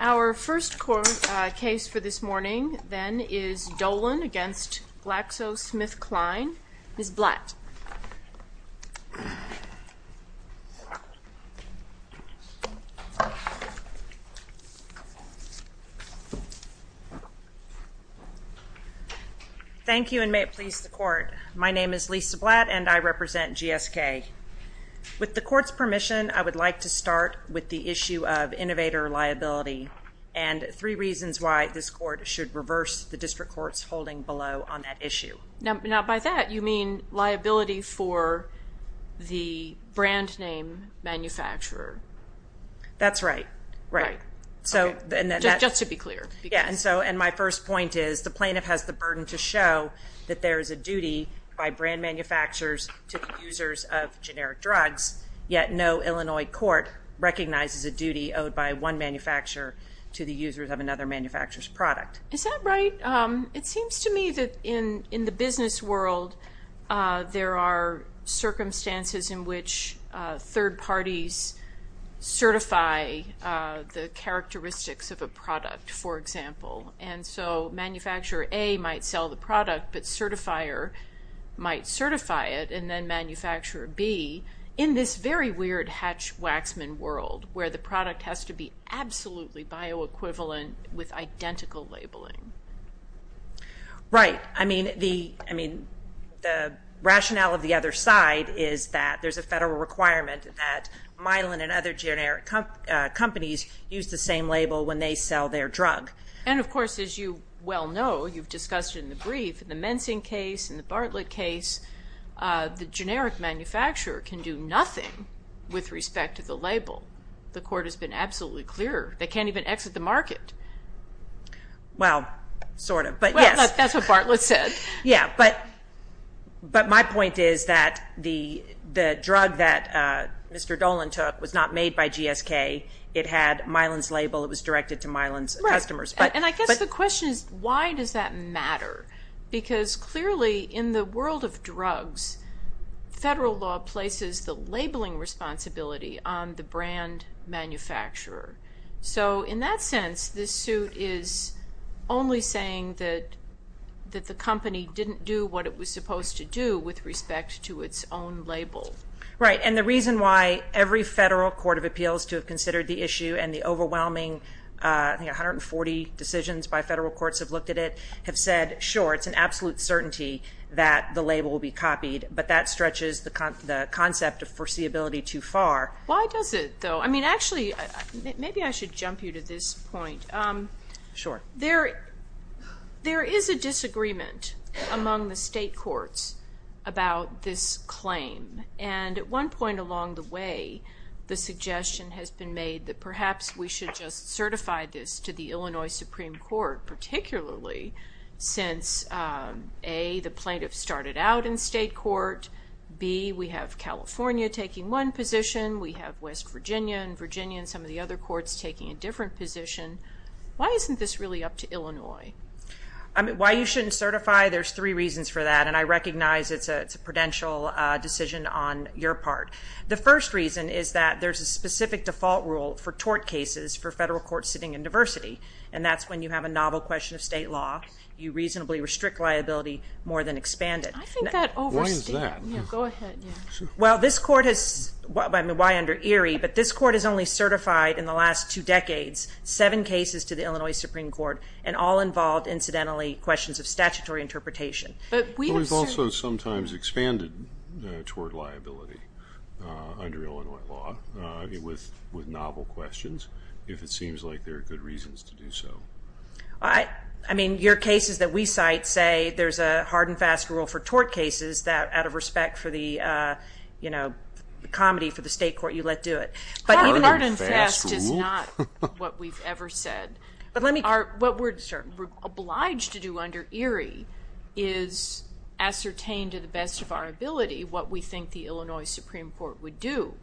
Our first court case for this morning then is Dolin v. GlaxoSmithKline. Ms. Blatt. Thank you and may it please the court. My name is Lisa Blatt and I represent GSK. With the court's permission, I would like to start with the issue of innovator liability and three reasons why this court should reverse the district court's holding below on that issue. Now by that you mean liability for the brand name manufacturer. That's right. Right. Just to be clear. Yeah, and my first point is the plaintiff has the burden to show that there is a duty by brand manufacturers to the users of generic drugs, yet no Illinois court recognizes a duty owed by one manufacturer to the users of another manufacturer's product. Is that right? It seems to me that in the business world, there are circumstances in which third parties certify the characteristics of a product, for example. And so manufacturer A might sell the product, but certifier might certify it, and then manufacturer B, in this very weird hatch-waxman world where the product has to be absolutely bioequivalent with identical labeling. Right. I mean, the rationale of the other side is that there's a federal requirement that Mylan and other generic companies use the same label when they sell their drug. And, of course, as you well know, you've discussed it in the brief, in the Mensing case, in the Bartlett case, the generic manufacturer can do nothing with respect to the label. The court has been absolutely clear. They can't even exit the market. Well, sort of, but yes. Well, that's what Bartlett said. Yeah, but my point is that the drug that Mr. Dolan took was not made by GSK. It had Mylan's label. It was directed to Mylan's customers. Right, and I guess the question is, why does that matter? Because, clearly, in the world of drugs, federal law places the labeling responsibility on the brand manufacturer. So, in that sense, this suit is only saying that the company didn't do what it was supposed to do with respect to its own label. Right, and the reason why every federal court of appeals to have considered the issue and the overwhelming, I think, 140 decisions by federal courts have looked at it, have said, sure, it's an absolute certainty that the label will be copied, but that stretches the concept of foreseeability too far. Why does it, though? I mean, actually, maybe I should jump you to this point. Sure. There is a disagreement among the state courts about this claim, and at one point along the way, the suggestion has been made that perhaps we should just certify this to the Illinois Supreme Court, particularly since, A, the plaintiff started out in state court. B, we have California taking one position. We have West Virginia and Virginia and some of the other courts taking a different position. Why isn't this really up to Illinois? I mean, why you shouldn't certify, there's three reasons for that, and I recognize it's a prudential decision on your part. The first reason is that there's a specific default rule for tort cases for federal courts sitting in diversity, and that's when you have a novel question of state law. You reasonably restrict liability more than expand it. I think that overstated. What is that? Go ahead. Well, this court has, I mean, why under Erie, but this court has only certified in the last two decades seven cases to the Illinois Supreme Court, and all involved, incidentally, questions of statutory interpretation. But we've also sometimes expanded toward liability under Illinois law with novel questions, if it seems like there are good reasons to do so. I mean, your cases that we cite say there's a hard and fast rule for tort cases that out of respect for the comedy for the state court, you let do it. Hard and fast is not what we've ever said. What we're obliged to do under Erie is ascertain to the best of our ability what we think the Illinois Supreme Court would do.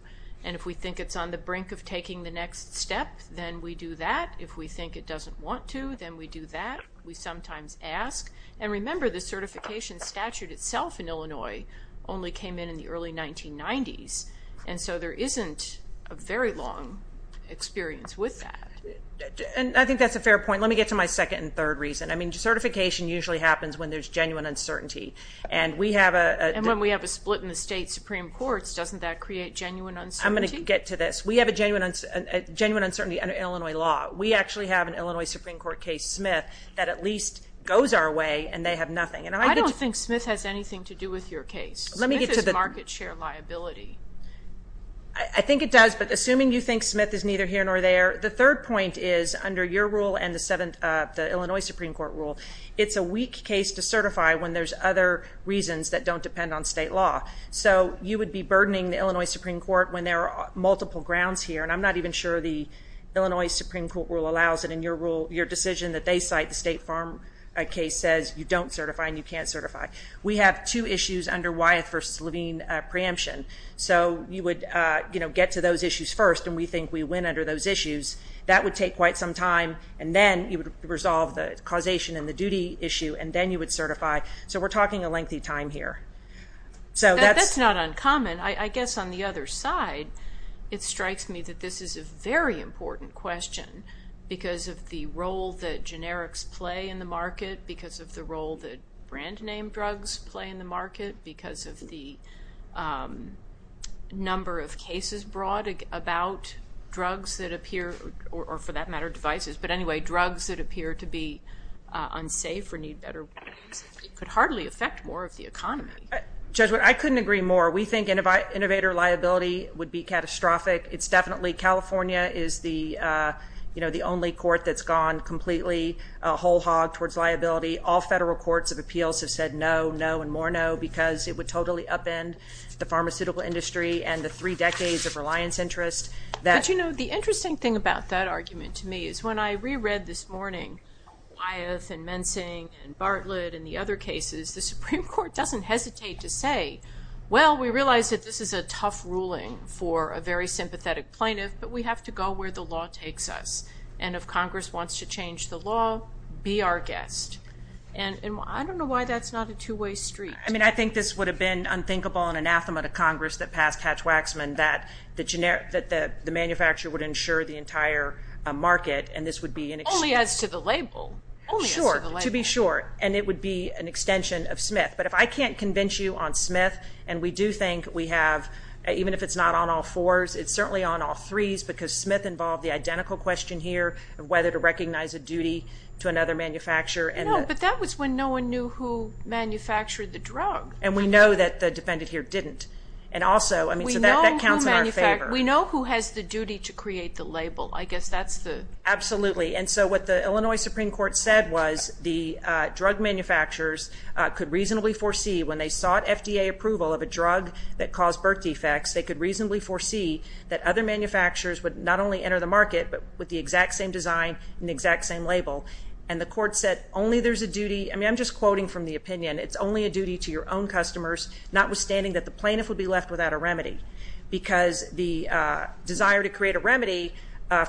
And if we think it's on the brink of taking the next step, then we do that. If we think it doesn't want to, then we do that. We sometimes ask. And remember, the certification statute itself in Illinois only came in in the early 1990s, and so there isn't a very long experience with that. And I think that's a fair point. Let me get to my second and third reason. I mean, certification usually happens when there's genuine uncertainty. And when we have a split in the state Supreme Courts, doesn't that create genuine uncertainty? I'm going to get to this. We have a genuine uncertainty under Illinois law. We actually have an Illinois Supreme Court case, Smith, that at least goes our way and they have nothing. I don't think Smith has anything to do with your case. Smith is market share liability. I think it does, but assuming you think Smith is neither here nor there, the third point is under your rule and the Illinois Supreme Court rule, it's a weak case to certify when there's other reasons that don't depend on state law. So you would be burdening the Illinois Supreme Court when there are multiple grounds here, and I'm not even sure the Illinois Supreme Court rule allows it in your decision that they cite. The State Farm case says you don't certify and you can't certify. We have two issues under Wyeth v. Levine preemption. So you would get to those issues first, and we think we win under those issues. That would take quite some time, and then you would resolve the causation and the duty issue, and then you would certify. So we're talking a lengthy time here. That's not uncommon. I guess on the other side, it strikes me that this is a very important question because of the role that generics play in the market, because of the role that brand name drugs play in the market, because of the number of cases brought about drugs that appear or, for that matter, devices. But anyway, drugs that appear to be unsafe or need better could hardly affect more of the economy. Judge, I couldn't agree more. We think innovator liability would be catastrophic. It's definitely California is the only court that's gone completely whole hog towards liability. All federal courts of appeals have said no, no, and more no because it would totally upend the pharmaceutical industry and the three decades of reliance interest. But, you know, the interesting thing about that argument to me is when I reread this morning Wyeth and Mensing and Bartlett and the other cases, the Supreme Court doesn't hesitate to say, well, we realize that this is a tough ruling for a very sympathetic plaintiff, but we have to go where the law takes us. And if Congress wants to change the law, be our guest. And I don't know why that's not a two-way street. I mean, I think this would have been unthinkable and anathema to Congress that passed Hatch-Waxman that the manufacturer would insure the entire market, and this would be an extension. Only as to the label. Sure, to be sure. And it would be an extension of Smith. But if I can't convince you on Smith, and we do think we have, even if it's not on all fours, it's certainly on all threes because Smith involved the identical question here of whether to recognize a duty to another manufacturer. No, but that was when no one knew who manufactured the drug. And we know that the defendant here didn't. And also, I mean, so that counts in our favor. We know who has the duty to create the label. I guess that's the. Absolutely. And so what the Illinois Supreme Court said was the drug manufacturers could reasonably foresee when they sought FDA approval of a drug that caused birth defects, they could reasonably foresee that other manufacturers would not only enter the market but with the exact same design and the exact same label. And the court said only there's a duty. I mean, I'm just quoting from the opinion. It's only a duty to your own customers, notwithstanding that the plaintiff would be left without a remedy because the desire to create a remedy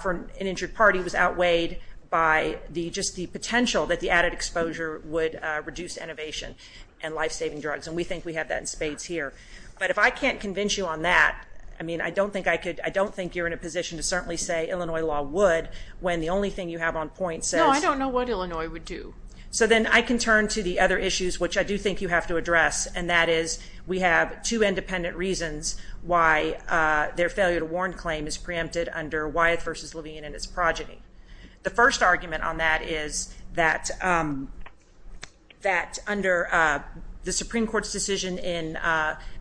for an injured party was outweighed by just the potential that the added exposure would reduce innovation and life-saving drugs. And we think we have that in spades here. But if I can't convince you on that, I mean, I don't think I could. I don't think you're in a position to certainly say Illinois law would when the only thing you have on point says. No, I don't know what Illinois would do. So then I can turn to the other issues, which I do think you have to address, and that is we have two independent reasons why their failure to warn claim is preempted under Wyeth v. Levine and its progeny. The first argument on that is that under the Supreme Court's decision in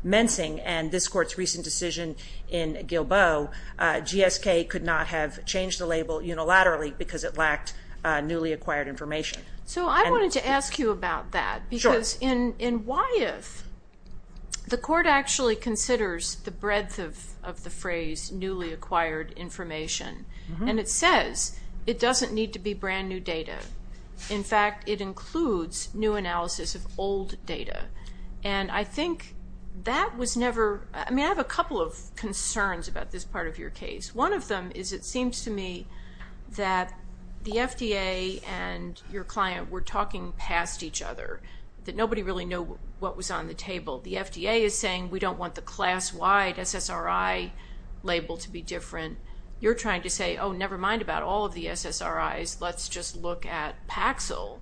Mensing and this court's recent decision in Gilbo, GSK could not have changed the label unilaterally because it lacked newly acquired information. So I wanted to ask you about that. Because in Wyeth, the court actually considers the breadth of the phrase newly acquired information. And it says it doesn't need to be brand new data. In fact, it includes new analysis of old data. And I think that was never – I mean, I have a couple of concerns about this part of your case. One of them is it seems to me that the FDA and your client were talking past each other, that nobody really knew what was on the table. The FDA is saying we don't want the class-wide SSRI label to be different. You're trying to say, oh, never mind about all of the SSRIs. Let's just look at Paxil.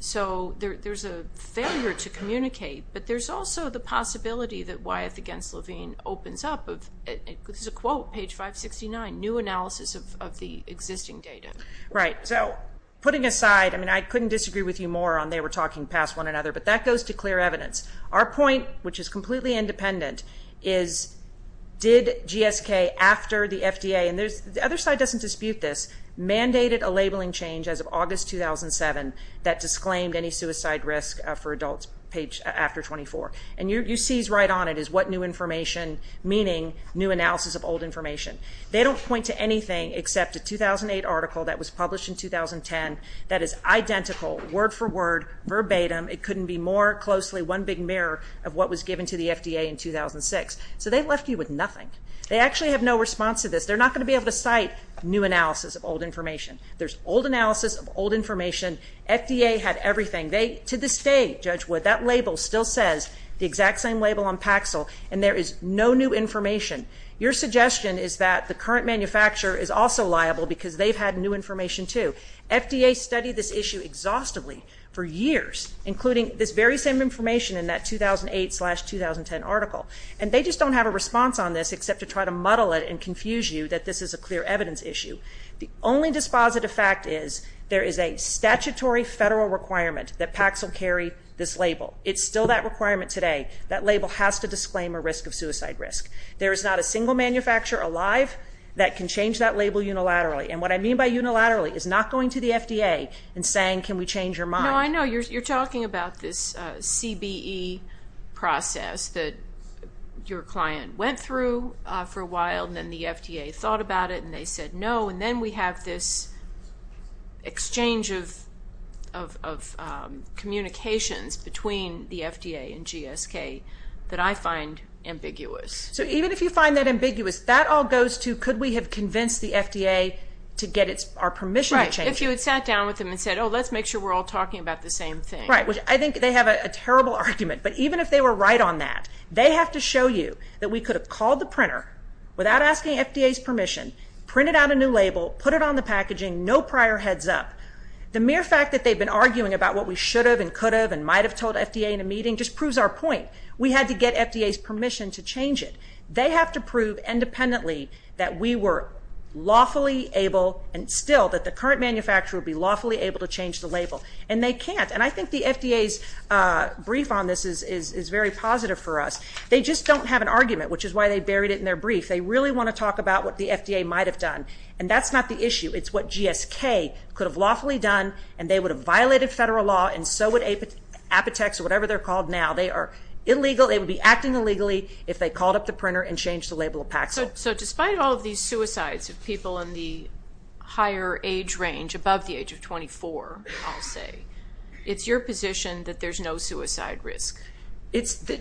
So there's a failure to communicate. But there's also the possibility that Wyeth v. Levine opens up. This is a quote, page 569, new analysis of the existing data. Right. So putting aside, I mean, I couldn't disagree with you more on they were talking past one another. But that goes to clear evidence. Our point, which is completely independent, is did GSK, after the FDA, and the other side doesn't dispute this, mandated a labeling change as of August 2007 that disclaimed any suicide risk for adults, page after 24. And you see right on it is what new information, meaning new analysis of old information. They don't point to anything except a 2008 article that was published in 2010 that is identical, word for word, verbatim. It couldn't be more closely one big mirror of what was given to the FDA in 2006. So they left you with nothing. They actually have no response to this. They're not going to be able to cite new analysis of old information. There's old analysis of old information. FDA had everything. To this day, Judge Wood, that label still says the exact same label on Paxil, and there is no new information. Your suggestion is that the current manufacturer is also liable because they've had new information too. FDA studied this issue exhaustively for years, including this very same information in that 2008-2010 article. And they just don't have a response on this except to try to muddle it and confuse you that this is a clear evidence issue. The only dispositive fact is there is a statutory federal requirement that Paxil carry this label. It's still that requirement today. That label has to disclaim a risk of suicide risk. There is not a single manufacturer alive that can change that label unilaterally. And what I mean by unilaterally is not going to the FDA and saying, can we change your mind. No, I know. You're talking about this CBE process that your client went through for a while, and then the FDA thought about it, and they said no. And then we have this exchange of communications between the FDA and GSK that I find ambiguous. So even if you find that ambiguous, that all goes to could we have convinced the FDA to get our permission to change it. Right, if you had sat down with them and said, oh, let's make sure we're all talking about the same thing. Right, which I think they have a terrible argument. But even if they were right on that, they have to show you that we could have called the printer without asking FDA's permission, printed out a new label, put it on the packaging, no prior heads up. The mere fact that they've been arguing about what we should have and could have and might have told FDA in a meeting just proves our point. We had to get FDA's permission to change it. They have to prove independently that we were lawfully able, and still, that the current manufacturer would be lawfully able to change the label. And they can't. And I think the FDA's brief on this is very positive for us. They just don't have an argument, which is why they buried it in their brief. They really want to talk about what the FDA might have done. And that's not the issue. It's what GSK could have lawfully done, and they would have violated federal law, and so would Apotex or whatever they're called now. They are illegal. They would be acting illegally if they called up the printer and changed the label of Paxil. So despite all of these suicides of people in the higher age range, above the age of 24, I'll say, it's your position that there's no suicide risk.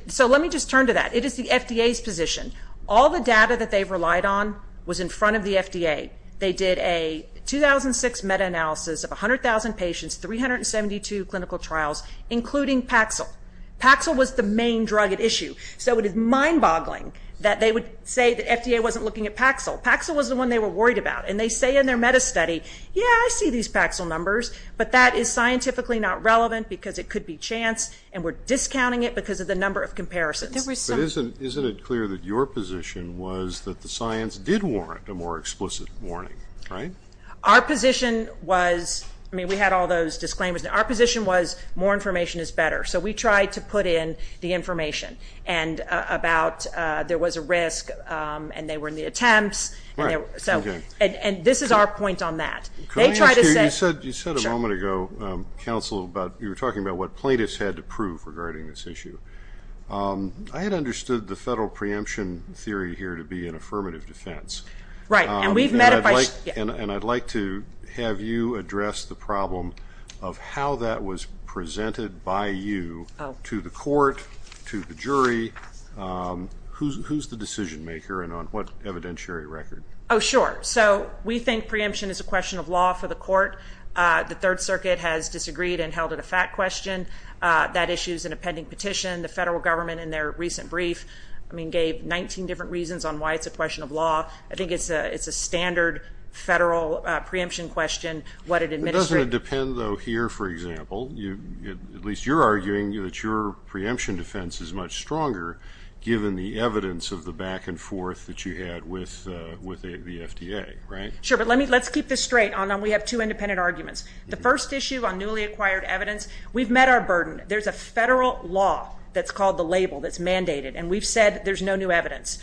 So let me just turn to that. It is the FDA's position. All the data that they've relied on was in front of the FDA. They did a 2006 meta-analysis of 100,000 patients, 372 clinical trials, including Paxil. Paxil was the main drug at issue. So it is mind-boggling that they would say that FDA wasn't looking at Paxil. Paxil was the one they were worried about. And they say in their meta-study, yeah, I see these Paxil numbers, but that is scientifically not relevant because it could be chance, and we're discounting it because of the number of comparisons. But isn't it clear that your position was that the science did warrant a more explicit warning, right? Our position was we had all those disclaimers. Our position was more information is better. So we tried to put in the information about there was a risk, and they were in the attempts. And this is our point on that. You said a moment ago, counsel, you were talking about what plaintiffs had to prove regarding this issue. I had understood the federal preemption theory here to be an affirmative defense. And I'd like to have you address the problem of how that was presented by you to the court, to the jury. Who's the decision maker and on what evidentiary record? Oh, sure. So we think preemption is a question of law for the court. The Third Circuit has disagreed and held it a fact question. That issue is an appending petition. The federal government in their recent brief, I mean, gave 19 different reasons on why it's a question of law. I think it's a standard federal preemption question, what it administers. It doesn't depend, though, here, for example. At least you're arguing that your preemption defense is much stronger, given the evidence of the back and forth that you had with the FDA, right? Sure, but let's keep this straight. We have two independent arguments. The first issue on newly acquired evidence, we've met our burden. There's a federal law that's called the label that's mandated, and we've said there's no new evidence.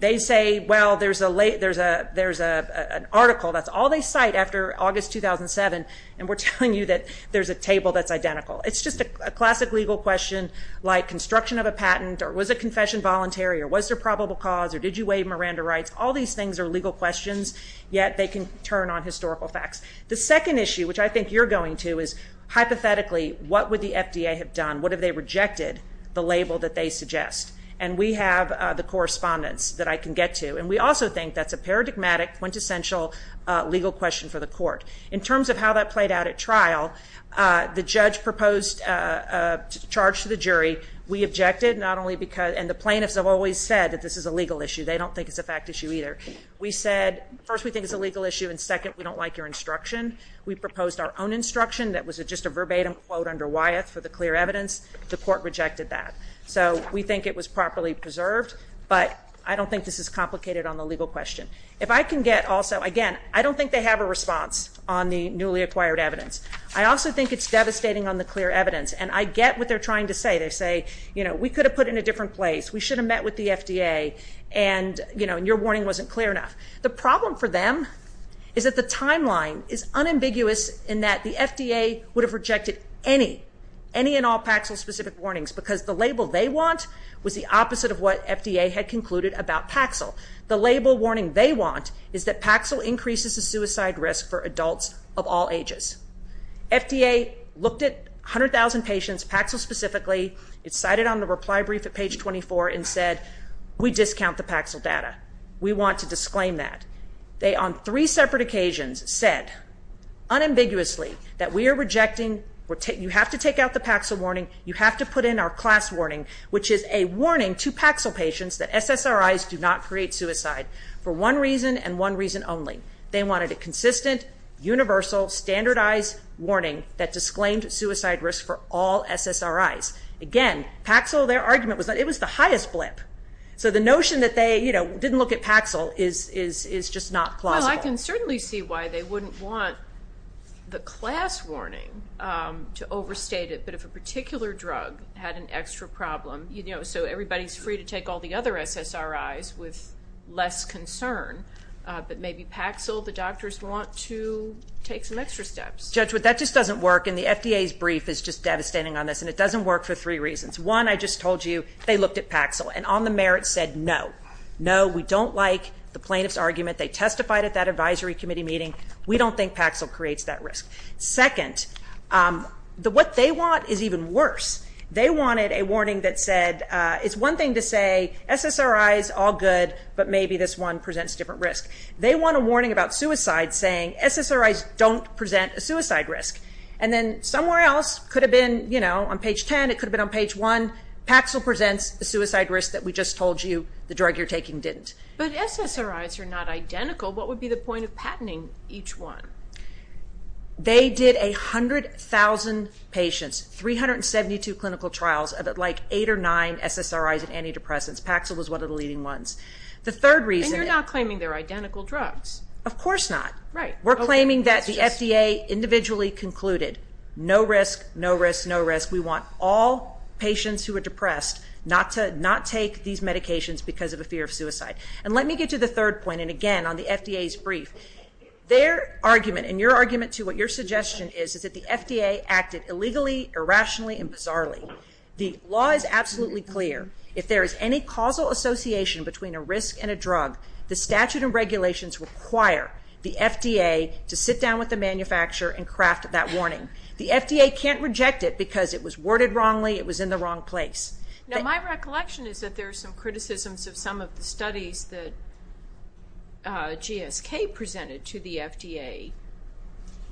They say, well, there's an article. That's all they cite after August 2007, and we're telling you that there's a table that's identical. It's just a classic legal question, like construction of a patent, or was a confession voluntary, or was there probable cause, or did you waive Miranda rights? All these things are legal questions, yet they can turn on historical facts. The second issue, which I think you're going to, is hypothetically, what would the FDA have done? What if they rejected the label that they suggest? And we have the correspondence that I can get to, and we also think that's a paradigmatic, quintessential legal question for the court. In terms of how that played out at trial, the judge proposed a charge to the jury. We objected, and the plaintiffs have always said that this is a legal issue. They don't think it's a fact issue either. First, we think it's a legal issue, and second, we don't like your instruction. We proposed our own instruction that was just a verbatim quote under Wyeth for the clear evidence. The court rejected that. So we think it was properly preserved, but I don't think this is complicated on the legal question. If I can get also, again, I don't think they have a response on the newly acquired evidence. I also think it's devastating on the clear evidence, and I get what they're trying to say. They say, you know, we could have put it in a different place. We should have met with the FDA, and, you know, your warning wasn't clear enough. The problem for them is that the timeline is unambiguous in that the FDA would have rejected any, any and all Paxil-specific warnings because the label they want was the opposite of what FDA had concluded about Paxil. The label warning they want is that Paxil increases the suicide risk for adults of all ages. FDA looked at 100,000 patients, Paxil specifically. It's cited on the reply brief at page 24 and said, we discount the Paxil data. We want to disclaim that. They, on three separate occasions, said unambiguously that we are rejecting. You have to take out the Paxil warning. You have to put in our class warning, which is a warning to Paxil patients that SSRIs do not create suicide for one reason and one reason only. They wanted a consistent, universal, standardized warning that disclaimed suicide risk for all SSRIs. Again, Paxil, their argument was that it was the highest blip. So the notion that they, you know, didn't look at Paxil is just not plausible. Well, I can certainly see why they wouldn't want the class warning to overstate it, but if a particular drug had an extra problem, you know, so everybody's free to take all the other SSRIs with less concern, but maybe Paxil, the doctors want to take some extra steps. Judge, that just doesn't work, and the FDA's brief is just devastating on this, and it doesn't work for three reasons. One, I just told you they looked at Paxil, and on the merits said no. No, we don't like the plaintiff's argument. They testified at that advisory committee meeting. We don't think Paxil creates that risk. Second, what they want is even worse. They wanted a warning that said it's one thing to say SSRIs, all good, but maybe this one presents different risk. They want a warning about suicide saying SSRIs don't present a suicide risk. And then somewhere else, could have been, you know, on page 10, it could have been on page 1, Paxil presents a suicide risk that we just told you the drug you're taking didn't. But SSRIs are not identical. What would be the point of patenting each one? They did 100,000 patients, 372 clinical trials, like eight or nine SSRIs and antidepressants. Paxil was one of the leading ones. And you're not claiming they're identical drugs. Of course not. We're claiming that the FDA individually concluded no risk, no risk, no risk. We want all patients who are depressed not to take these medications because of a fear of suicide. And let me get to the third point, and, again, on the FDA's brief. Their argument, and your argument, too, what your suggestion is, is that the FDA acted illegally, irrationally, and bizarrely. The law is absolutely clear. If there is any causal association between a risk and a drug, the statute and regulations require the FDA to sit down with the manufacturer and craft that warning. The FDA can't reject it because it was worded wrongly, it was in the wrong place. Now, my recollection is that there are some criticisms of some of the studies that GSK presented to the FDA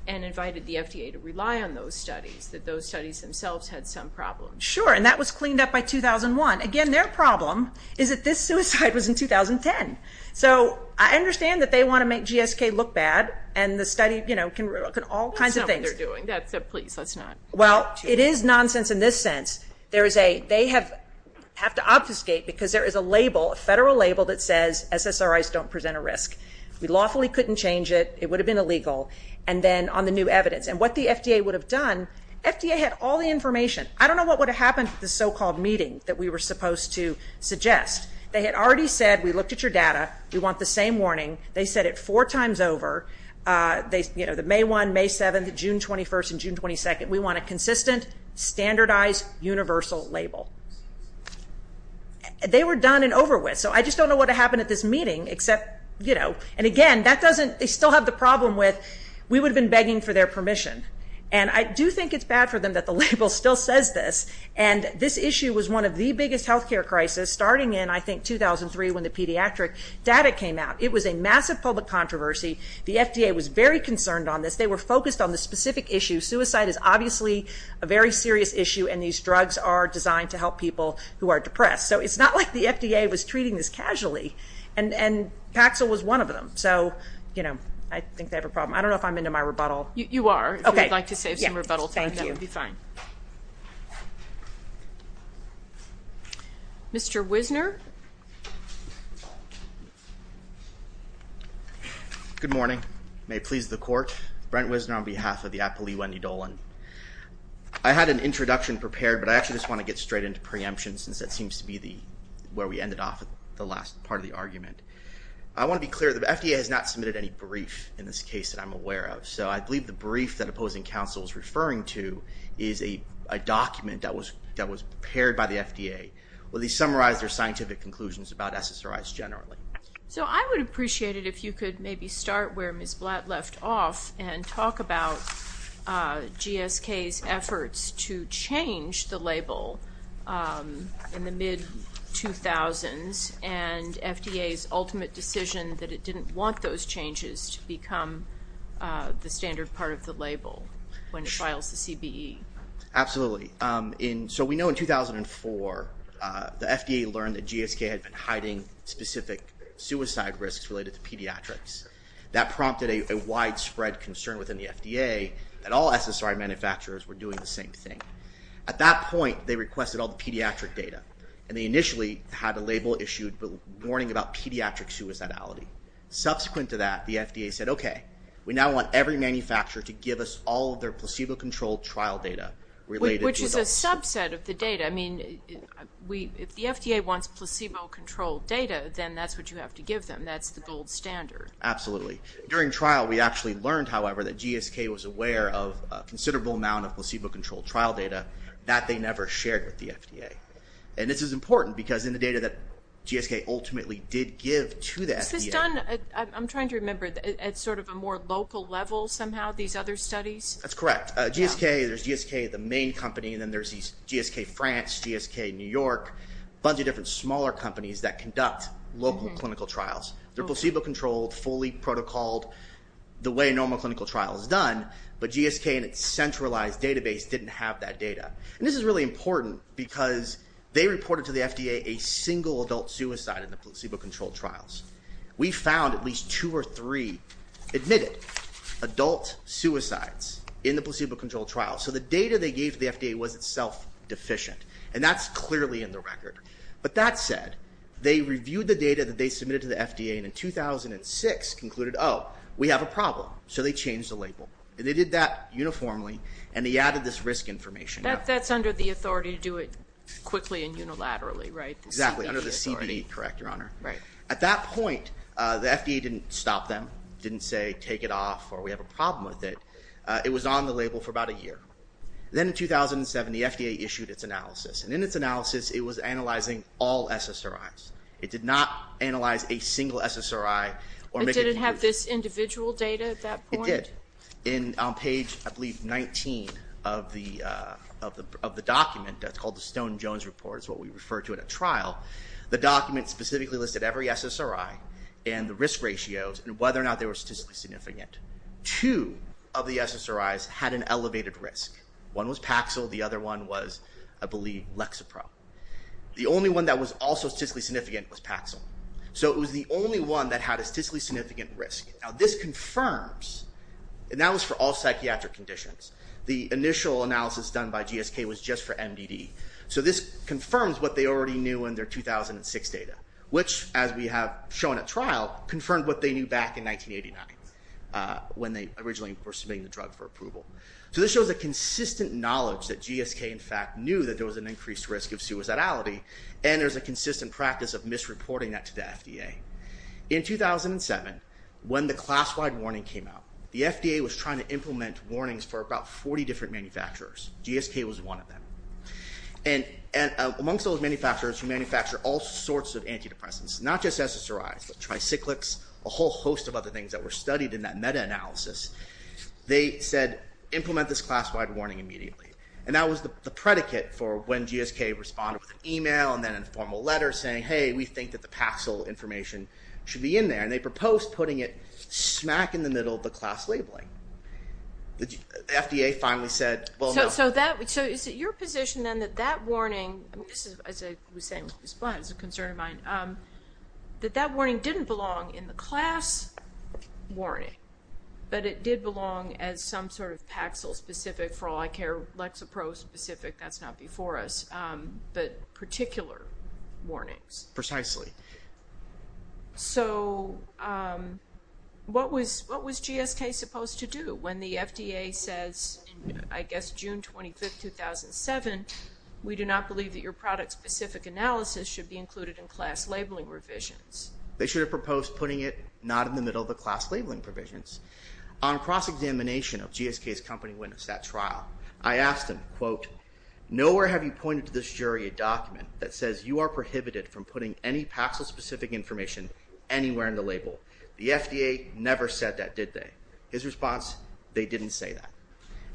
and invited the FDA to rely on those studies, that those studies themselves had some problems. Sure, and that was cleaned up by 2001. Again, their problem is that this suicide was in 2010. So I understand that they want to make GSK look bad, and the study can look at all kinds of things. That's not what they're doing. Please, let's not. Well, it is nonsense in this sense. They have to obfuscate because there is a label, a federal label, that says SSRIs don't present a risk. We lawfully couldn't change it. It would have been illegal. And then on the new evidence and what the FDA would have done, FDA had all the information. I don't know what would have happened at the so-called meeting that we were supposed to suggest. They had already said, we looked at your data, we want the same warning. They said it four times over, the May 1, May 7, June 21, and June 22. We want a consistent, standardized, universal label. They were done and over with. So I just don't know what would have happened at this meeting, except, you know. And again, that doesn't, they still have the problem with, we would have been begging for their permission. And I do think it's bad for them that the label still says this. And this issue was one of the biggest healthcare crisis starting in, I think, 2003 when the pediatric data came out. It was a massive public controversy. The FDA was very concerned on this. They were focused on the specific issue. Suicide is obviously a very serious issue, and these drugs are designed to help people who are depressed. So it's not like the FDA was treating this casually. And Paxil was one of them. So, you know, I think they have a problem. I don't know if I'm into my rebuttal. You are. Okay. If you'd like to save some rebuttal time, that would be fine. Thank you. Mr. Wisner. Good morning. May it please the Court. Brent Wisner on behalf of the Applee Wendy Dolan. I had an introduction prepared, but I actually just want to get straight into preemption since that seems to be where we ended off the last part of the argument. I want to be clear. The FDA has not submitted any brief in this case that I'm aware of. So I believe the brief that opposing counsel is referring to is a document that was prepared by the FDA where they summarized their scientific conclusions about SSRIs generally. So I would appreciate it if you could maybe start where Ms. Blatt left off and talk about GSK's efforts to change the label in the mid-2000s and FDA's ultimate decision that it didn't want those changes to become the standard part of the label when it files the CBE. Absolutely. So we know in 2004 the FDA learned that GSK had been hiding specific suicide risks related to pediatrics. That prompted a widespread concern within the FDA that all SSRI manufacturers were doing the same thing. At that point they requested all the pediatric data, and they initially had a label issued warning about pediatric suicidality. Subsequent to that, the FDA said, okay, we now want every manufacturer to give us all of their placebo-controlled trial data related to those. Which is a subset of the data. I mean, if the FDA wants placebo-controlled data, then that's what you have to give them. That's the gold standard. Absolutely. During trial we actually learned, however, that GSK was aware of a considerable amount of placebo-controlled trial data that they never shared with the FDA. And this is important because in the data that GSK ultimately did give to the FDA. Is this done, I'm trying to remember, at sort of a more local level somehow, these other studies? That's correct. GSK, there's GSK, the main company, and then there's GSK France, GSK New York, a bunch of different smaller companies that conduct local clinical trials. They're placebo-controlled, fully protocoled, the way a normal clinical trial is done, but GSK and its centralized database didn't have that data. And this is really important because they reported to the FDA a single adult suicide in the placebo-controlled trials. So the data they gave to the FDA was itself deficient, and that's clearly in the record. But that said, they reviewed the data that they submitted to the FDA, and in 2006 concluded, oh, we have a problem. So they changed the label. And they did that uniformly, and they added this risk information. That's under the authority to do it quickly and unilaterally, right? Exactly, under the CB, correct, Your Honor. Right. At that point, the FDA didn't stop them, didn't say take it off, or we have a problem with it. It was on the label for about a year. Then in 2007, the FDA issued its analysis. And in its analysis, it was analyzing all SSRIs. It did not analyze a single SSRI. But did it have this individual data at that point? It did. On page, I believe, 19 of the document that's called the Stone-Jones Report, it's what we refer to in a trial, the document specifically listed every SSRI and the risk ratios and whether or not they were statistically significant. Two of the SSRIs had an elevated risk. One was Paxil. The other one was, I believe, Lexapro. The only one that was also statistically significant was Paxil. So it was the only one that had a statistically significant risk. Now, this confirms, and that was for all psychiatric conditions. The initial analysis done by GSK was just for MDD. So this confirms what they already knew in their 2006 data, which, as we have shown at trial, confirmed what they knew back in 1989 when they originally were submitting the drug for approval. So this shows a consistent knowledge that GSK, in fact, knew that there was an increased risk of suicidality, and there's a consistent practice of misreporting that to the FDA. In 2007, when the class-wide warning came out, the FDA was trying to implement warnings for about 40 different manufacturers. GSK was one of them. Amongst those manufacturers who manufacture all sorts of antidepressants, not just SSRIs, but tricyclics, a whole host of other things that were studied in that meta-analysis, they said, implement this class-wide warning immediately. That was the predicate for when GSK responded with an email and then a formal letter saying, hey, we think that the Paxil information should be in there. They proposed putting it smack in the middle of the class labeling. The FDA finally said, well, no. So is it your position, then, that that warning, as I was saying with Ms. Blind, it's a concern of mine, that that warning didn't belong in the class warning, but it did belong as some sort of Paxil-specific, for all I care, Lexapro-specific, that's not before us, but particular warnings? Precisely. So what was GSK supposed to do when the FDA says, I guess June 25, 2007, we do not believe that your product-specific analysis should be included in class labeling revisions? They should have proposed putting it not in the middle of the class labeling provisions. On cross-examination of GSK's company witness at trial, I asked him, quote, nowhere have you pointed to this jury a document that says you are prohibited from putting any Paxil-specific information anywhere in the label. The FDA never said that, did they? His response, they didn't say that.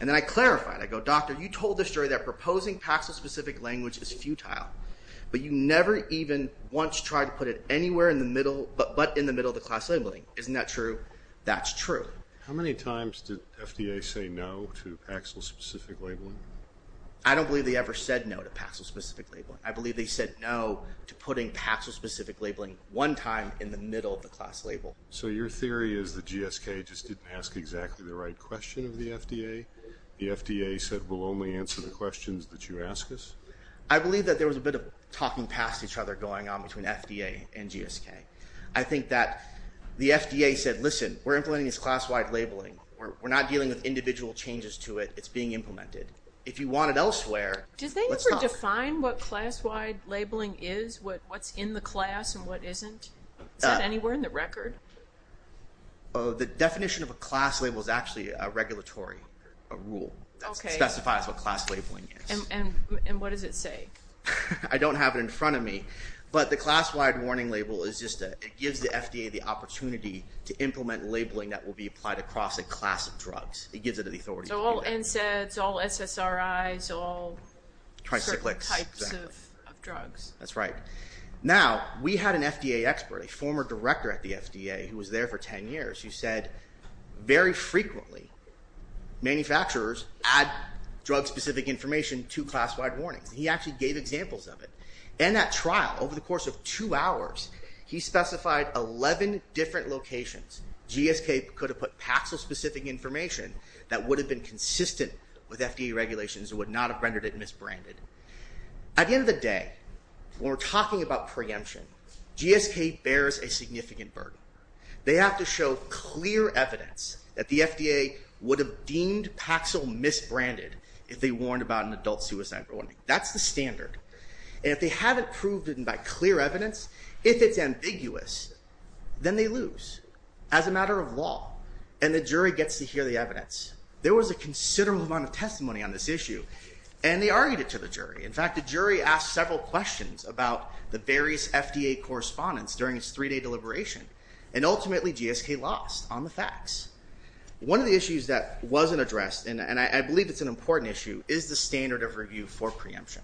And then I clarified, I go, doctor, you told this jury that proposing Paxil-specific language is futile, but you never even once tried to put it anywhere in the middle, but in the middle of the class labeling. Isn't that true? That's true. How many times did FDA say no to Paxil-specific labeling? I don't believe they ever said no to Paxil-specific labeling. I believe they said no to putting Paxil-specific labeling one time in the middle of the class label. So your theory is that GSK just didn't ask exactly the right question of the FDA? The FDA said we'll only answer the questions that you ask us? I believe that there was a bit of talking past each other going on between FDA and GSK. I think that the FDA said, listen, we're implementing this class-wide labeling. We're not dealing with individual changes to it. It's being implemented. If you want it elsewhere, let's talk. Does they ever define what class-wide labeling is? What's in the class and what isn't? Is that anywhere in the record? The definition of a class label is actually a regulatory rule that specifies what class labeling is. And what does it say? I don't have it in front of me, but the class-wide warning label is just that it gives the FDA the opportunity to implement labeling that will be applied across a class of drugs. It gives it the authority to do that. So all NSAIDs, all SSRIs, all certain types of drugs. That's right. Now, we had an FDA expert, a former director at the FDA, who was there for 10 years, who said very frequently manufacturers add drug-specific information to class-wide warnings. He actually gave examples of it. And that trial, over the course of two hours, he specified 11 different locations. GSK could have put Paxil-specific information that would have been consistent with FDA regulations and would not have rendered it misbranded. At the end of the day, when we're talking about preemption, GSK bears a significant burden. They have to show clear evidence that the FDA would have deemed Paxil misbranded if they warned about an adult suicide warning. That's the standard. And if they haven't proved it by clear evidence, if it's ambiguous, then they lose as a matter of law. And the jury gets to hear the evidence. There was a considerable amount of testimony on this issue, and they argued it to the jury. In fact, the jury asked several questions about the various FDA correspondents during its three-day deliberation, and ultimately GSK lost on the facts. One of the issues that wasn't addressed, and I believe it's an important issue, is the standard of review for preemption.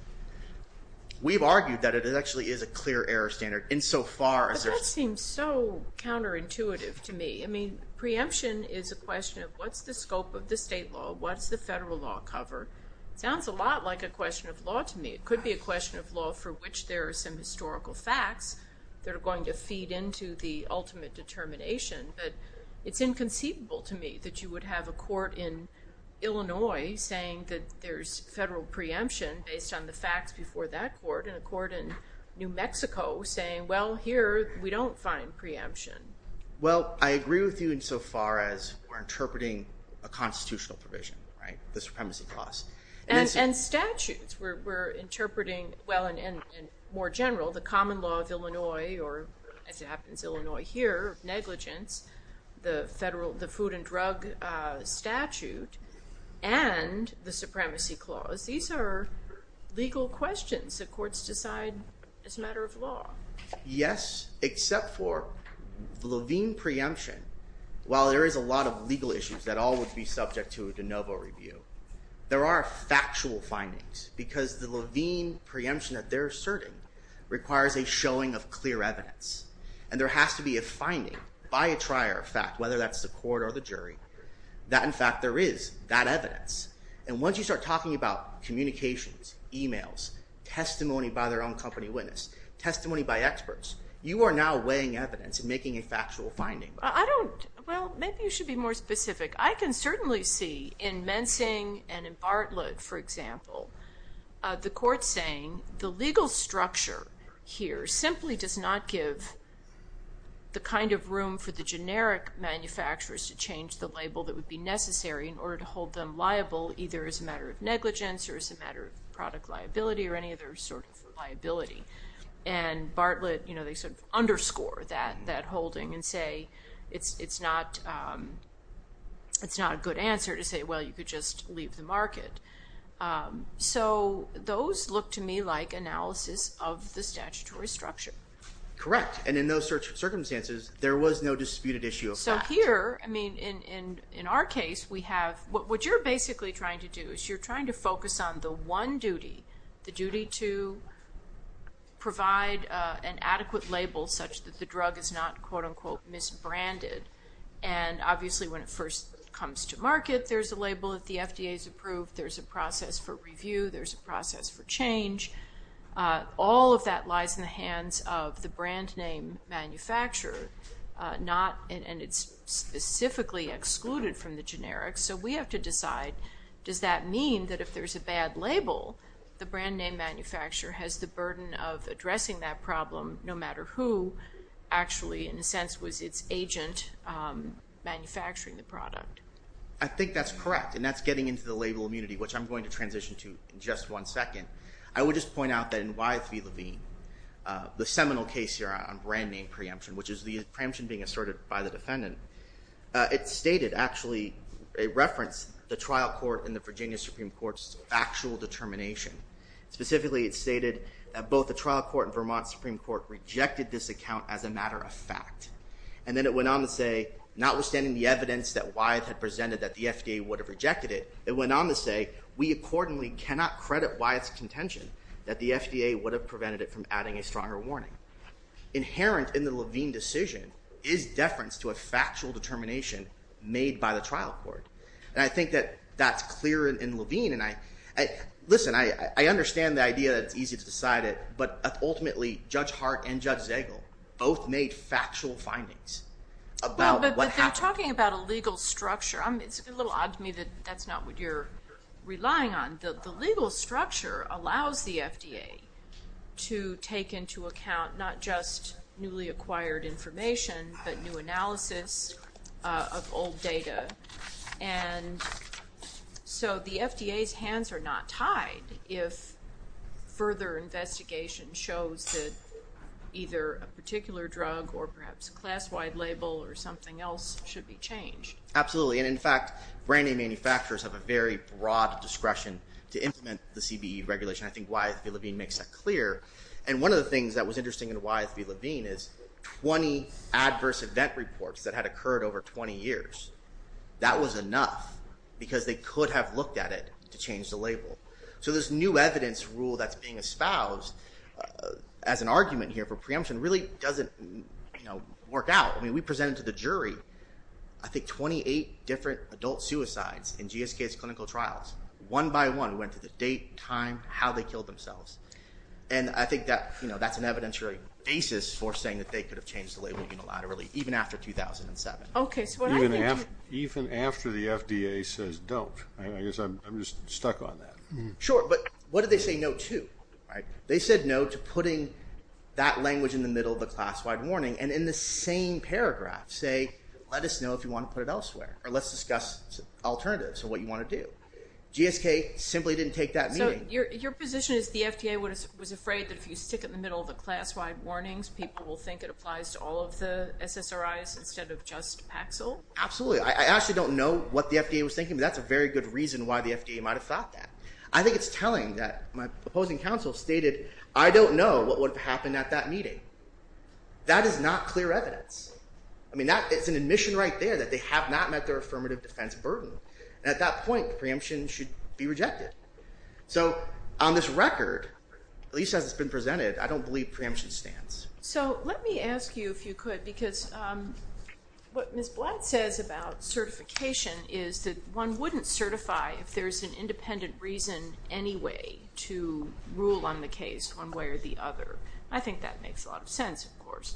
We've argued that it actually is a clear error standard insofar as there's... But that seems so counterintuitive to me. I mean, preemption is a question of what's the scope of the state law, what's the federal law cover. It sounds a lot like a question of law to me. It could be a question of law for which there are some historical facts that are going to feed into the ultimate determination. But it's inconceivable to me that you would have a court in Illinois saying that there's federal preemption based on the facts before that court, and a court in New Mexico saying, well, here we don't find preemption. Well, I agree with you insofar as we're interpreting a constitutional provision, right? The Supremacy Clause. And statutes. We're interpreting, well, and more general, the common law of Illinois, or as it happens, Illinois here, negligence, the food and drug statute, and the Supremacy Clause. These are legal questions that courts decide as a matter of law. Yes, except for the Levine preemption. While there is a lot of legal issues that all would be subject to a de novo review, there are factual findings, because the Levine preemption that they're asserting requires a showing of clear evidence. And there has to be a finding by a trier of fact, whether that's the court or the jury, that in fact there is that evidence. And once you start talking about communications, emails, testimony by their own company witness, testimony by experts, you are now weighing evidence and making a factual finding. I don't, well, maybe you should be more specific. I can certainly see in Mensing and in Bartlett, for example, the court saying the legal structure here simply does not give the kind of room for the generic manufacturers to change the label that would be necessary in order to hold them liable, either as a matter of negligence or as a matter of product liability or any other sort of liability. And Bartlett, you know, they sort of underscore that holding and say it's not a good answer to say, well, you could just leave the market. So those look to me like analysis of the statutory structure. Correct. And in those circumstances, there was no disputed issue of fact. So here, I mean, in our case, we have, what you're basically trying to do is you're trying to focus on the one duty, the duty to provide an adequate label such that the drug is not, quote-unquote, misbranded. And obviously, when it first comes to market, there's a label that the FDA has approved. There's a process for review. There's a process for change. All of that lies in the hands of the brand name manufacturer, and it's specifically excluded from the generics. So we have to decide, does that mean that if there's a bad label, the brand name manufacturer has the burden of addressing that problem, no matter who actually, in a sense, was its agent manufacturing the product? I think that's correct, and that's getting into the label immunity, which I'm going to transition to in just one second. I would just point out that in Y3 Levine, the seminal case here on brand name preemption, which is the preemption being asserted by the defendant, it stated, actually, it referenced the trial court and the Virginia Supreme Court's factual determination. Specifically, it stated that both the trial court and Vermont Supreme Court rejected this account as a matter of fact. And then it went on to say, notwithstanding the evidence that Wyeth had presented that the FDA would have rejected it, it went on to say, we accordingly cannot credit Wyeth's contention that the FDA would have prevented it from adding a stronger warning. Inherent in the Levine decision is deference to a factual determination made by the trial court. And I think that that's clear in Levine, and listen, I understand the idea that it's easy to decide it, but ultimately, Judge Hart and Judge Zegel both made factual findings about what happened. But they're talking about a legal structure. It's a little odd to me that that's not what you're relying on. The legal structure allows the FDA to take into account not just newly acquired information, but new analysis of old data. And so the FDA's hands are not tied if further investigation shows that either a particular drug or perhaps a class-wide label or something else should be changed. Absolutely, and in fact, brand-name manufacturers have a very broad discretion to implement the CBE regulation. I think Wyeth v. Levine makes that clear. And one of the things that was interesting in Wyeth v. Levine is 20 adverse event reports that had occurred over 20 years. That was enough, because they could have looked at it to change the label. So this new evidence rule that's being espoused as an argument here for preemption really doesn't work out. I mean, we presented to the jury, I think, 28 different adult suicides in GSK's clinical trials. One by one, we went through the date, time, how they killed themselves. And I think that's an evidentiary basis for saying that they could have changed the label unilaterally, even after 2007. Okay, so what I think... Even after the FDA says don't. I guess I'm just stuck on that. Sure, but what did they say no to? They said no to putting that language in the middle of the class-wide warning, and in the same paragraph say, let us know if you want to put it elsewhere, or let's discuss alternatives of what you want to do. GSK simply didn't take that meaning. So your position is the FDA was afraid that if you stick it in the middle of the class-wide warnings, people will think it applies to all of the SSRIs instead of just Paxil? Absolutely. I actually don't know what the FDA was thinking, but that's a very good reason why the FDA might have thought that. I think it's telling that my opposing counsel stated, I don't know what would have happened at that meeting. That is not clear evidence. I mean, it's an admission right there that they have not met their affirmative defense burden. At that point, preemption should be rejected. So on this record, at least as it's been presented, I don't believe preemption stands. So let me ask you, if you could, because what Ms. Blatt says about certification is that one wouldn't certify if there's an independent reason anyway to rule on the case one way or the other. I think that makes a lot of sense, of course.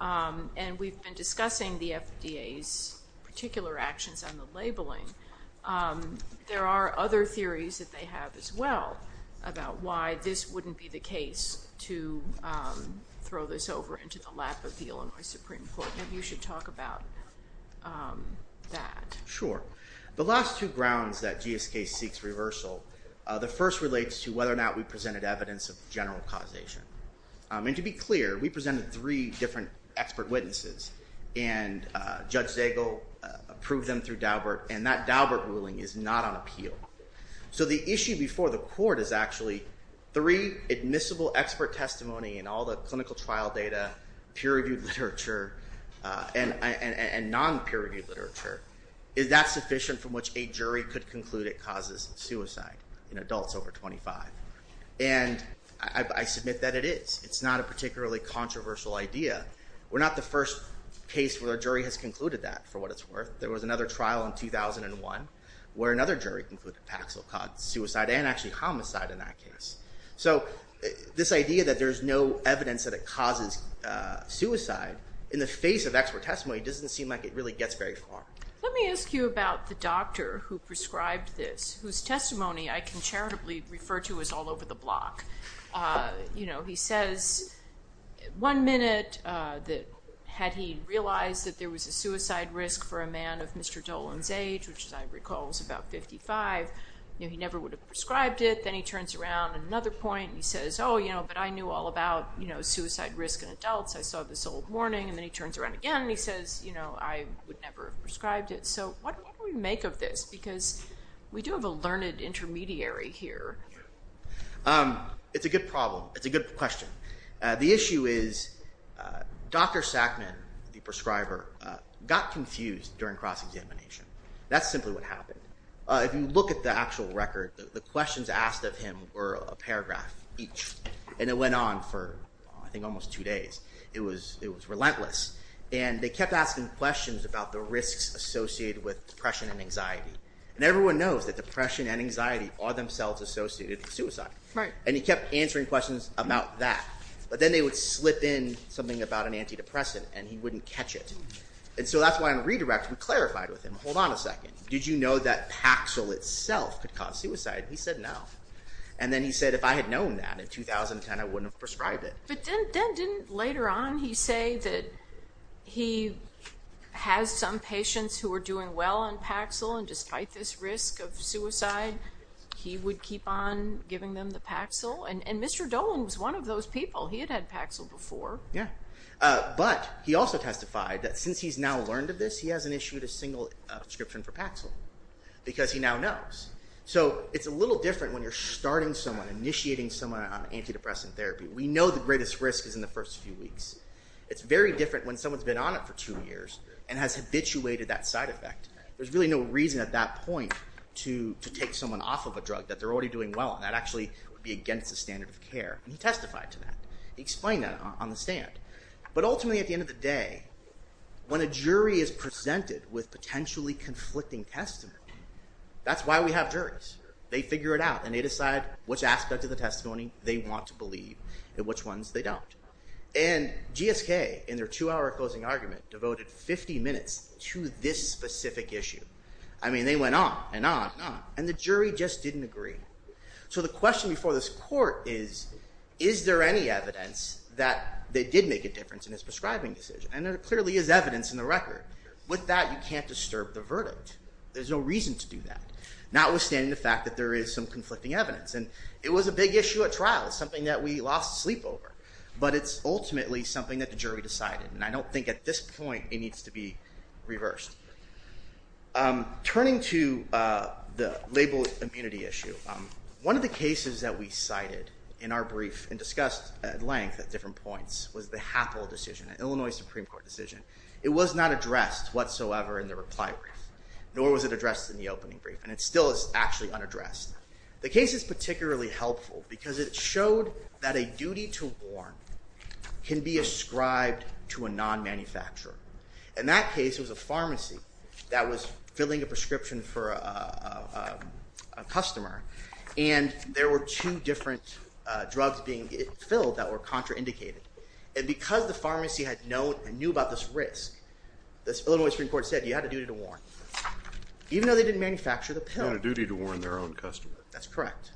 And we've been discussing the FDA's particular actions on the labeling. There are other theories that they have as well about why this wouldn't be the case to throw this over into the lap of the Illinois Supreme Court. Maybe you should talk about that. Sure. The last two grounds that GSK seeks reversal, the first relates to whether or not we presented evidence of general causation. And to be clear, we presented three different expert witnesses. And Judge Zagel approved them through Daubert. And that Daubert ruling is not on appeal. So the issue before the court is actually three admissible expert testimony in all the clinical trial data, peer-reviewed literature, and non-peer-reviewed literature. Is that sufficient from which a jury could conclude it causes suicide in adults over 25? And I submit that it is. It's not a particularly controversial idea. We're not the first case where a jury has concluded that, for what it's worth. There was another trial in 2001 where another jury concluded Paxil caused suicide and actually homicide in that case. So this idea that there's no evidence that it causes suicide in the face of expert testimony doesn't seem like it really gets very far. Let me ask you about the doctor who prescribed this, whose testimony I can charitably refer to as all over the block. You know, he says one minute that had he realized that there was a suicide risk for a man of Mr. Dolan's age, which as I recall was about 55, he never would have prescribed it. Then he turns around at another point and he says, oh, you know, but I knew all about suicide risk in adults. I saw this old warning. And then he turns around again and he says, you know, I would never have prescribed it. So what do we make of this? Because we do have a learned intermediary here. It's a good problem. It's a good question. The issue is Dr. Sackman, the prescriber, got confused during cross-examination. That's simply what happened. If you look at the actual record, the questions asked of him were a paragraph each, and it went on for I think almost two days. It was relentless. And they kept asking questions about the risks associated with depression and anxiety. And everyone knows that depression and anxiety are themselves associated with suicide. And he kept answering questions about that. But then they would slip in something about an antidepressant and he wouldn't catch it. And so that's why I'm redirecting, clarifying with him, hold on a second, did you know that Paxil itself could cause suicide? He said no. And then he said if I had known that in 2010, I wouldn't have prescribed it. But then didn't later on he say that he has some patients who are doing well on Paxil, and despite this risk of suicide, he would keep on giving them the Paxil? And Mr. Dolan was one of those people. He had had Paxil before. Yeah. But he also testified that since he's now learned of this, he hasn't issued a single prescription for Paxil because he now knows. So it's a little different when you're starting someone, initiating someone on antidepressant therapy. We know the greatest risk is in the first few weeks. It's very different when someone's been on it for two years and has habituated that side effect. There's really no reason at that point to take someone off of a drug that they're already doing well on. That actually would be against the standard of care. And he testified to that. He explained that on the stand. But ultimately at the end of the day, when a jury is presented with potentially conflicting testimony, that's why we have juries. They figure it out and they decide which aspect of the testimony they want to believe and which ones they don't. And GSK, in their two-hour closing argument, devoted 50 minutes to this specific issue. I mean, they went on and on and on, and the jury just didn't agree. So the question before this court is, is there any evidence that they did make a difference in his prescribing decision? And there clearly is evidence in the record. With that, you can't disturb the verdict. There's no reason to do that, notwithstanding the fact that there is some conflicting evidence. And it was a big issue at trial, something that we lost sleep over. But it's ultimately something that the jury decided. And I don't think at this point it needs to be reversed. Turning to the label immunity issue, one of the cases that we cited in our brief and discussed at length at different points was the Happel decision, an Illinois Supreme Court decision. It was not addressed whatsoever in the reply brief, nor was it addressed in the opening brief, and it still is actually unaddressed. The case is particularly helpful because it showed that a duty to warn can be ascribed to a non-manufacturer. In that case, it was a pharmacy that was filling a prescription for a customer, and there were two different drugs being filled that were contraindicated. And because the pharmacy had known and knew about this risk, the Illinois Supreme Court said you had a duty to warn, even though they didn't manufacture the pill. They had a duty to warn their own customer. That's correct.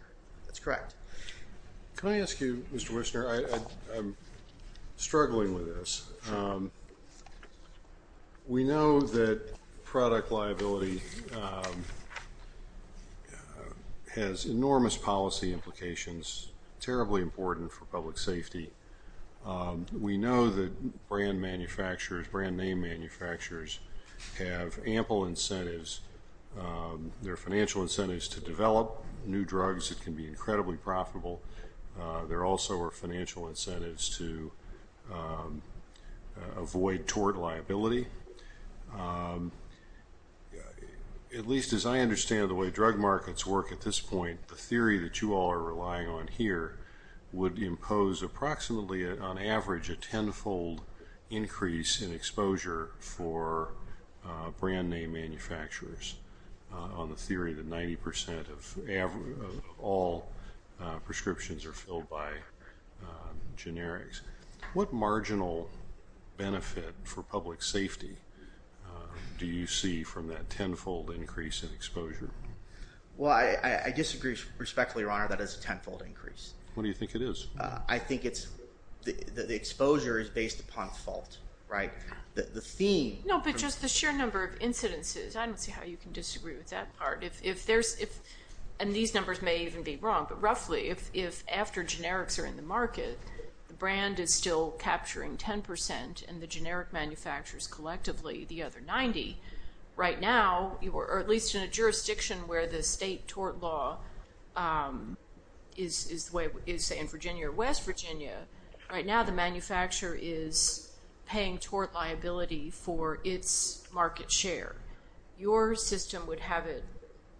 That's correct. Can I ask you, Mr. Wissner? I'm struggling with this. We know that product liability has enormous policy implications, terribly important for public safety. We know that brand manufacturers, brand name manufacturers, have ample incentives. There are financial incentives to develop new drugs that can be incredibly profitable. There also are financial incentives to avoid tort liability. At least as I understand the way drug markets work at this point, the theory that you all are relying on here would impose approximately, on average, a tenfold increase in exposure for brand name manufacturers on the theory that 90% of all prescriptions are filled by generics. What marginal benefit for public safety do you see from that tenfold increase in exposure? Well, I disagree respectfully, Your Honor, that it's a tenfold increase. What do you think it is? I think the exposure is based upon fault, right? The theme... No, but just the sheer number of incidences. I don't see how you can disagree with that part. And these numbers may even be wrong, but roughly, if after generics are in the market, the brand is still capturing 10% and the generic manufacturers collectively the other 90. Right now, or at least in a jurisdiction where the state tort law is in Virginia or West Virginia, right now the manufacturer is paying tort liability for its market share. Your system would have it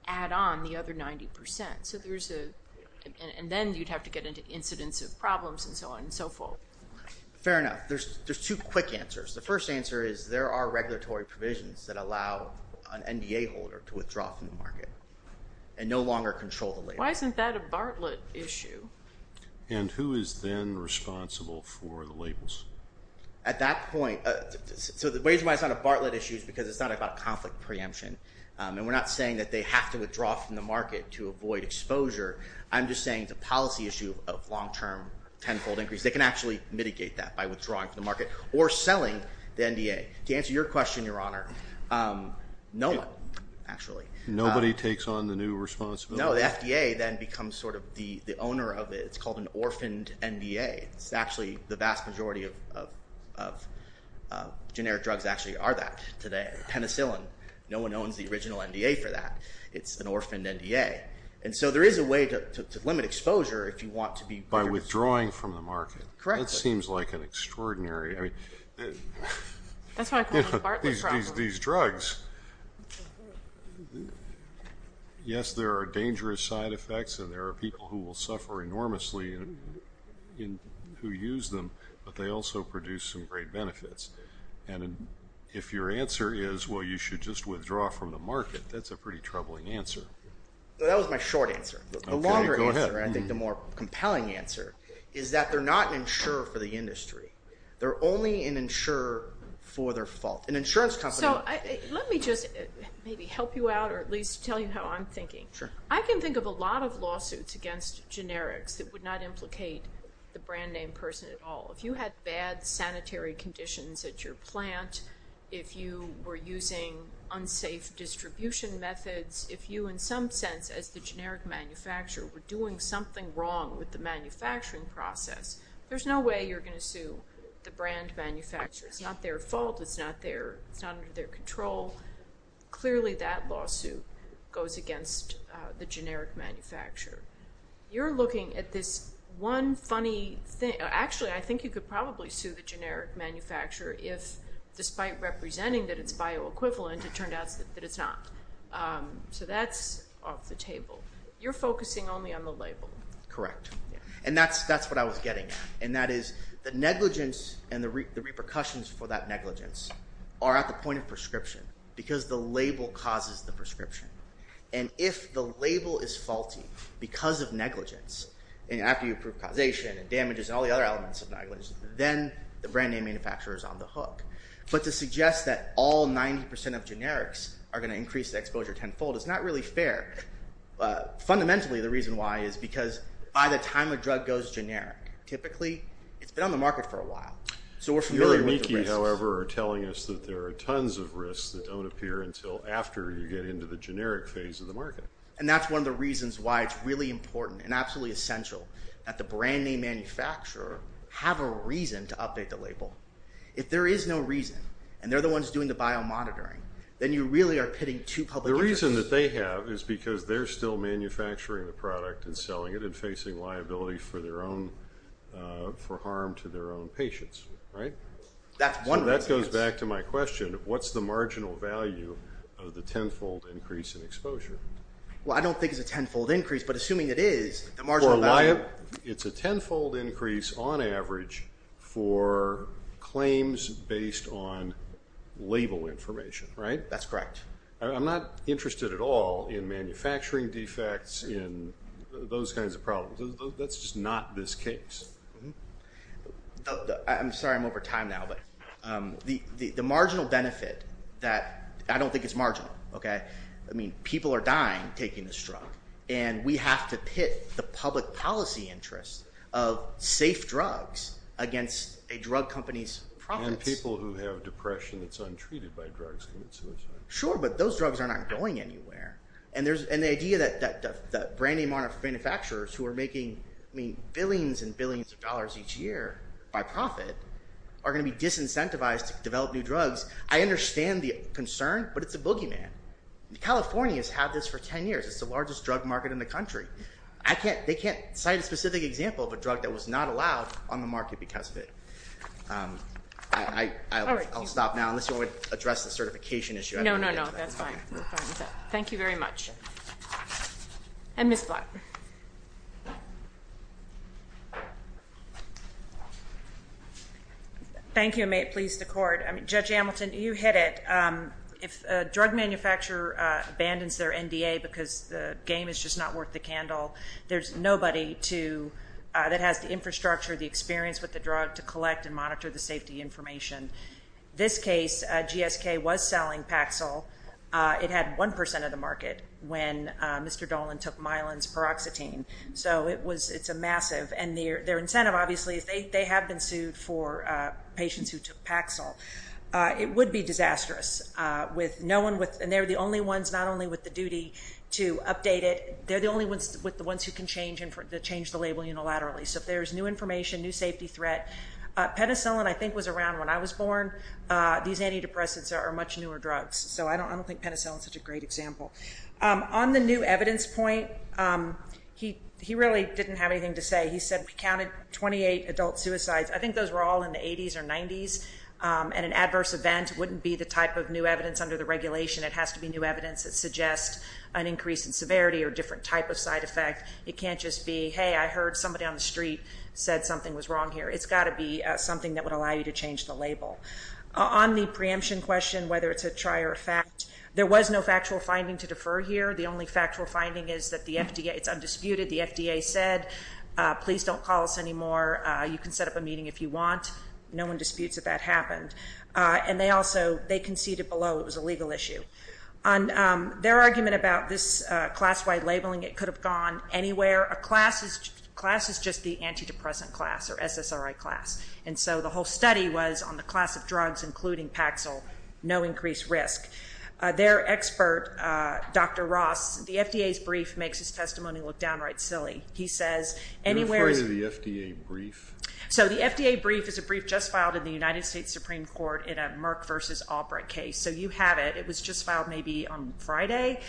add on the other 90%, and then you'd have to get into incidents of problems and so on and so forth. Fair enough. There's two quick answers. The first answer is there are regulatory provisions that allow an NDA holder to withdraw from the market and no longer control the label. Why isn't that a Bartlett issue? And who is then responsible for the labels? At that point... So the reason why it's not a Bartlett issue is because it's not about conflict preemption, and we're not saying that they have to withdraw from the market to avoid exposure. I'm just saying it's a policy issue of long-term tenfold increase. They can actually mitigate that by withdrawing from the market or selling the NDA. To answer your question, Your Honor, no one, actually. Nobody takes on the new responsibility? No, the FDA then becomes sort of the owner of it. It's called an orphaned NDA. It's actually the vast majority of generic drugs actually are that today. Penicillin, no one owns the original NDA for that. It's an orphaned NDA. And so there is a way to limit exposure if you want to be... By withdrawing from the market. Correct. That seems like an extraordinary... That's why I call it the Bartlett problem. These drugs, yes, there are dangerous side effects, and there are people who will suffer enormously who use them, but they also produce some great benefits. And if your answer is, well, you should just withdraw from the market, that's a pretty troubling answer. That was my short answer. Okay, go ahead. The longer answer, and I think the more compelling answer, is that they're not an insurer for the industry. They're only an insurer for their fault. An insurance company... So let me just maybe help you out or at least tell you how I'm thinking. Sure. I can think of a lot of lawsuits against generics that would not implicate the brand name person at all. If you had bad sanitary conditions at your plant, if you were using unsafe distribution methods, if you, in some sense, as the generic manufacturer, were doing something wrong with the manufacturing process, there's no way you're going to sue the brand manufacturer. It's not their fault. It's not under their control. Clearly, that lawsuit goes against the generic manufacturer. You're looking at this one funny thing. Actually, I think you could probably sue the generic manufacturer if, despite representing that it's bioequivalent, it turned out that it's not. So that's off the table. You're focusing only on the label. Correct. And that's what I was getting at, and that is the negligence and the repercussions for that negligence are at the point of prescription because the label causes the prescription. And if the label is faulty because of negligence, and after you prove causation and damages and all the other elements of negligence, then the brand name manufacturer is on the hook. But to suggest that all 90% of generics are going to increase the exposure tenfold is not really fair. Fundamentally, the reason why is because by the time a drug goes generic, typically it's been on the market for a while, so we're familiar with the risks. Your amici, however, are telling us that there are tons of risks that don't appear until after you get into the generic phase of the market. And that's one of the reasons why it's really important and absolutely essential that the brand name manufacturer have a reason to update the label. If there is no reason, and they're the ones doing the biomonitoring, then you really are pitting two public interests. The reason that they have is because they're still manufacturing the product and selling it and facing liability for harm to their own patients, right? So that goes back to my question. What's the marginal value of the tenfold increase in exposure? Well, I don't think it's a tenfold increase, but assuming it is, the marginal value... It's a tenfold increase on average for claims based on label information, right? That's correct. I'm not interested at all in manufacturing defects, in those kinds of problems. That's just not this case. I'm sorry I'm over time now, but the marginal benefit that... I don't think it's marginal, okay? I mean, people are dying taking this drug, and we have to pit the public policy interest of safe drugs against a drug company's profits. And people who have depression that's untreated by drugs commit suicide. Sure, but those drugs are not going anywhere. And the idea that brand name manufacturers who are making billions and billions of dollars each year by profit are going to be disincentivized to develop new drugs, I understand the concern, but it's a boogeyman. California has had this for ten years. It's the largest drug market in the country. They can't cite a specific example of a drug that was not allowed on the market because of it. I'll stop now, unless you want me to address the certification issue. No, no, no, that's fine. Thank you very much. And Ms. Black. Thank you, and may it please the Court. Judge Hamilton, you hit it. If a drug manufacturer abandons their NDA because the game is just not worth the candle, there's nobody that has the infrastructure, the experience with the drug, to collect and monitor the safety information. This case, GSK was selling Paxil. It had 1% of the market when Mr. Dolan took Myelin's paroxetine. So it's a massive. And their incentive, obviously, is they have been sued for patients who took Paxil. It would be disastrous. And they're the only ones, not only with the duty to update it, they're the only ones with the ones who can change the label unilaterally. So if there's new information, new safety threat. Penicillin, I think, was around when I was born. These antidepressants are much newer drugs. So I don't think penicillin is such a great example. On the new evidence point, he really didn't have anything to say. He said we counted 28 adult suicides. I think those were all in the 80s or 90s. And an adverse event wouldn't be the type of new evidence under the regulation. It has to be new evidence that suggests an increase in severity or a different type of side effect. It can't just be, hey, I heard somebody on the street said something was wrong here. It's got to be something that would allow you to change the label. On the preemption question, whether it's a try or a fact, there was no factual finding to defer here. The only factual finding is that it's undisputed. The FDA said, please don't call us anymore. You can set up a meeting if you want. No one disputes that that happened. And they also conceded below it was a legal issue. On their argument about this class-wide labeling, it could have gone anywhere. A class is just the antidepressant class or SSRI class. And so the whole study was on the class of drugs, including Paxil, no increased risk. Their expert, Dr. Ross, the FDA's brief makes his testimony look downright silly. He says anywhere- You're referring to the FDA brief? So the FDA brief is a brief just filed in the United States Supreme Court in a Merck v. Albrecht case. So you have it. It was just filed maybe on Friday.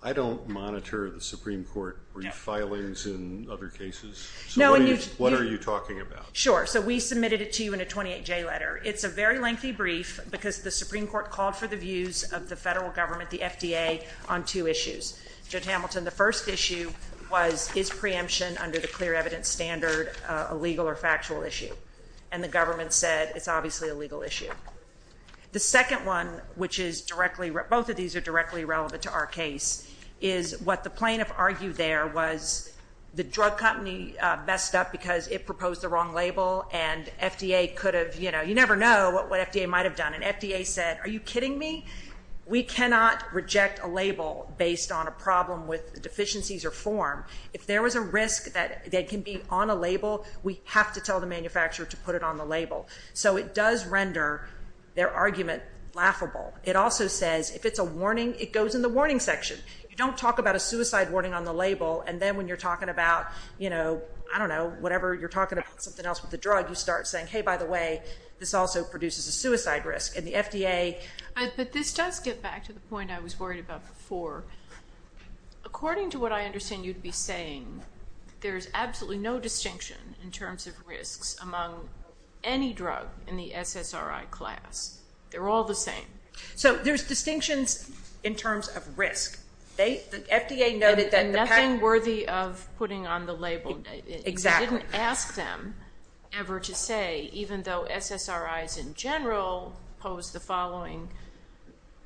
I don't monitor the Supreme Court brief filings in other cases. So what are you talking about? Sure. So we submitted it to you in a 28-J letter. It's a very lengthy brief because the Supreme Court called for the views of the federal government, the FDA, on two issues. Judge Hamilton, the first issue was is preemption under the clear evidence standard a legal or factual issue? And the government said it's obviously a legal issue. The second one, which is directly- both of these are directly relevant to our case, is what the plaintiff argued there was the drug company messed up because it proposed the wrong label, and FDA could have- you never know what FDA might have done. And FDA said, are you kidding me? We cannot reject a label based on a problem with deficiencies or form. If there was a risk that it can be on a label, we have to tell the manufacturer to put it on the label. So it does render their argument laughable. It also says if it's a warning, it goes in the warning section. You don't talk about a suicide warning on the label, and then when you're talking about, you know, I don't know, whatever you're talking about, something else with the drug, you start saying, hey, by the way, this also produces a suicide risk. And the FDA- But this does get back to the point I was worried about before. According to what I understand you'd be saying, there's absolutely no distinction in terms of risks among any drug in the SSRI class. They're all the same. So there's distinctions in terms of risk. The FDA noted that- And nothing worthy of putting on the label. Exactly. And didn't ask them ever to say, even though SSRIs in general pose the following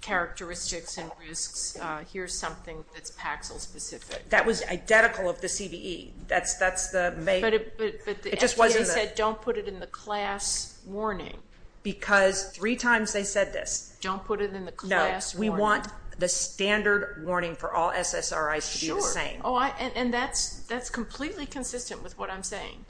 characteristics and risks, here's something that's Paxil-specific. That was identical of the CVE. That's the- But the FDA said don't put it in the class warning. Because three times they said this. Don't put it in the class warning. No, we want the standard warning for all SSRIs to be the same. And that's completely consistent with what I'm saying.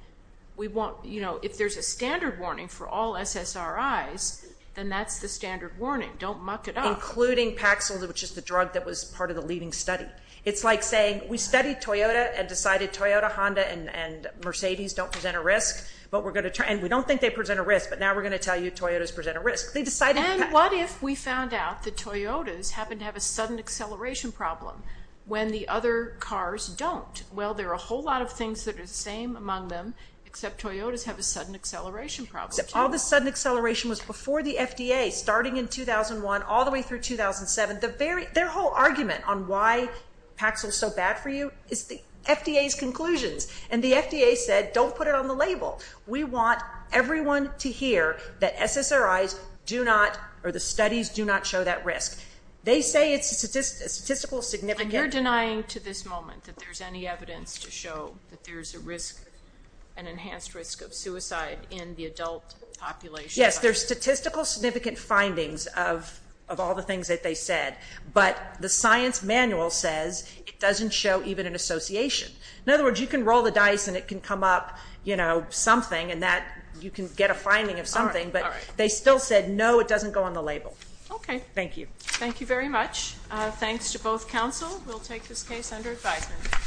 If there's a standard warning for all SSRIs, then that's the standard warning. Don't muck it up. Including Paxil, which is the drug that was part of the leading study. It's like saying we studied Toyota and decided Toyota, Honda, and Mercedes don't present a risk. And we don't think they present a risk, but now we're going to tell you Toyotas present a risk. They decided- And what if we found out that Toyotas happen to have a sudden acceleration problem when the other cars don't? Well, there are a whole lot of things that are the same among them, except Toyotas have a sudden acceleration problem. All the sudden acceleration was before the FDA, starting in 2001 all the way through 2007. Their whole argument on why Paxil's so bad for you is the FDA's conclusions. And the FDA said don't put it on the label. We want everyone to hear that SSRIs do not, or the studies do not show that risk. They say it's a statistical significant- And you're denying to this moment that there's any evidence to show that there's a risk, an enhanced risk of suicide in the adult population. Yes, there's statistical significant findings of all the things that they said. But the science manual says it doesn't show even an association. In other words, you can roll the dice and it can come up something, and you can get a finding of something, but they still said no, it doesn't go on the label. Okay. Thank you. Thank you very much. Thanks to both counsel. We'll take this case under advisement.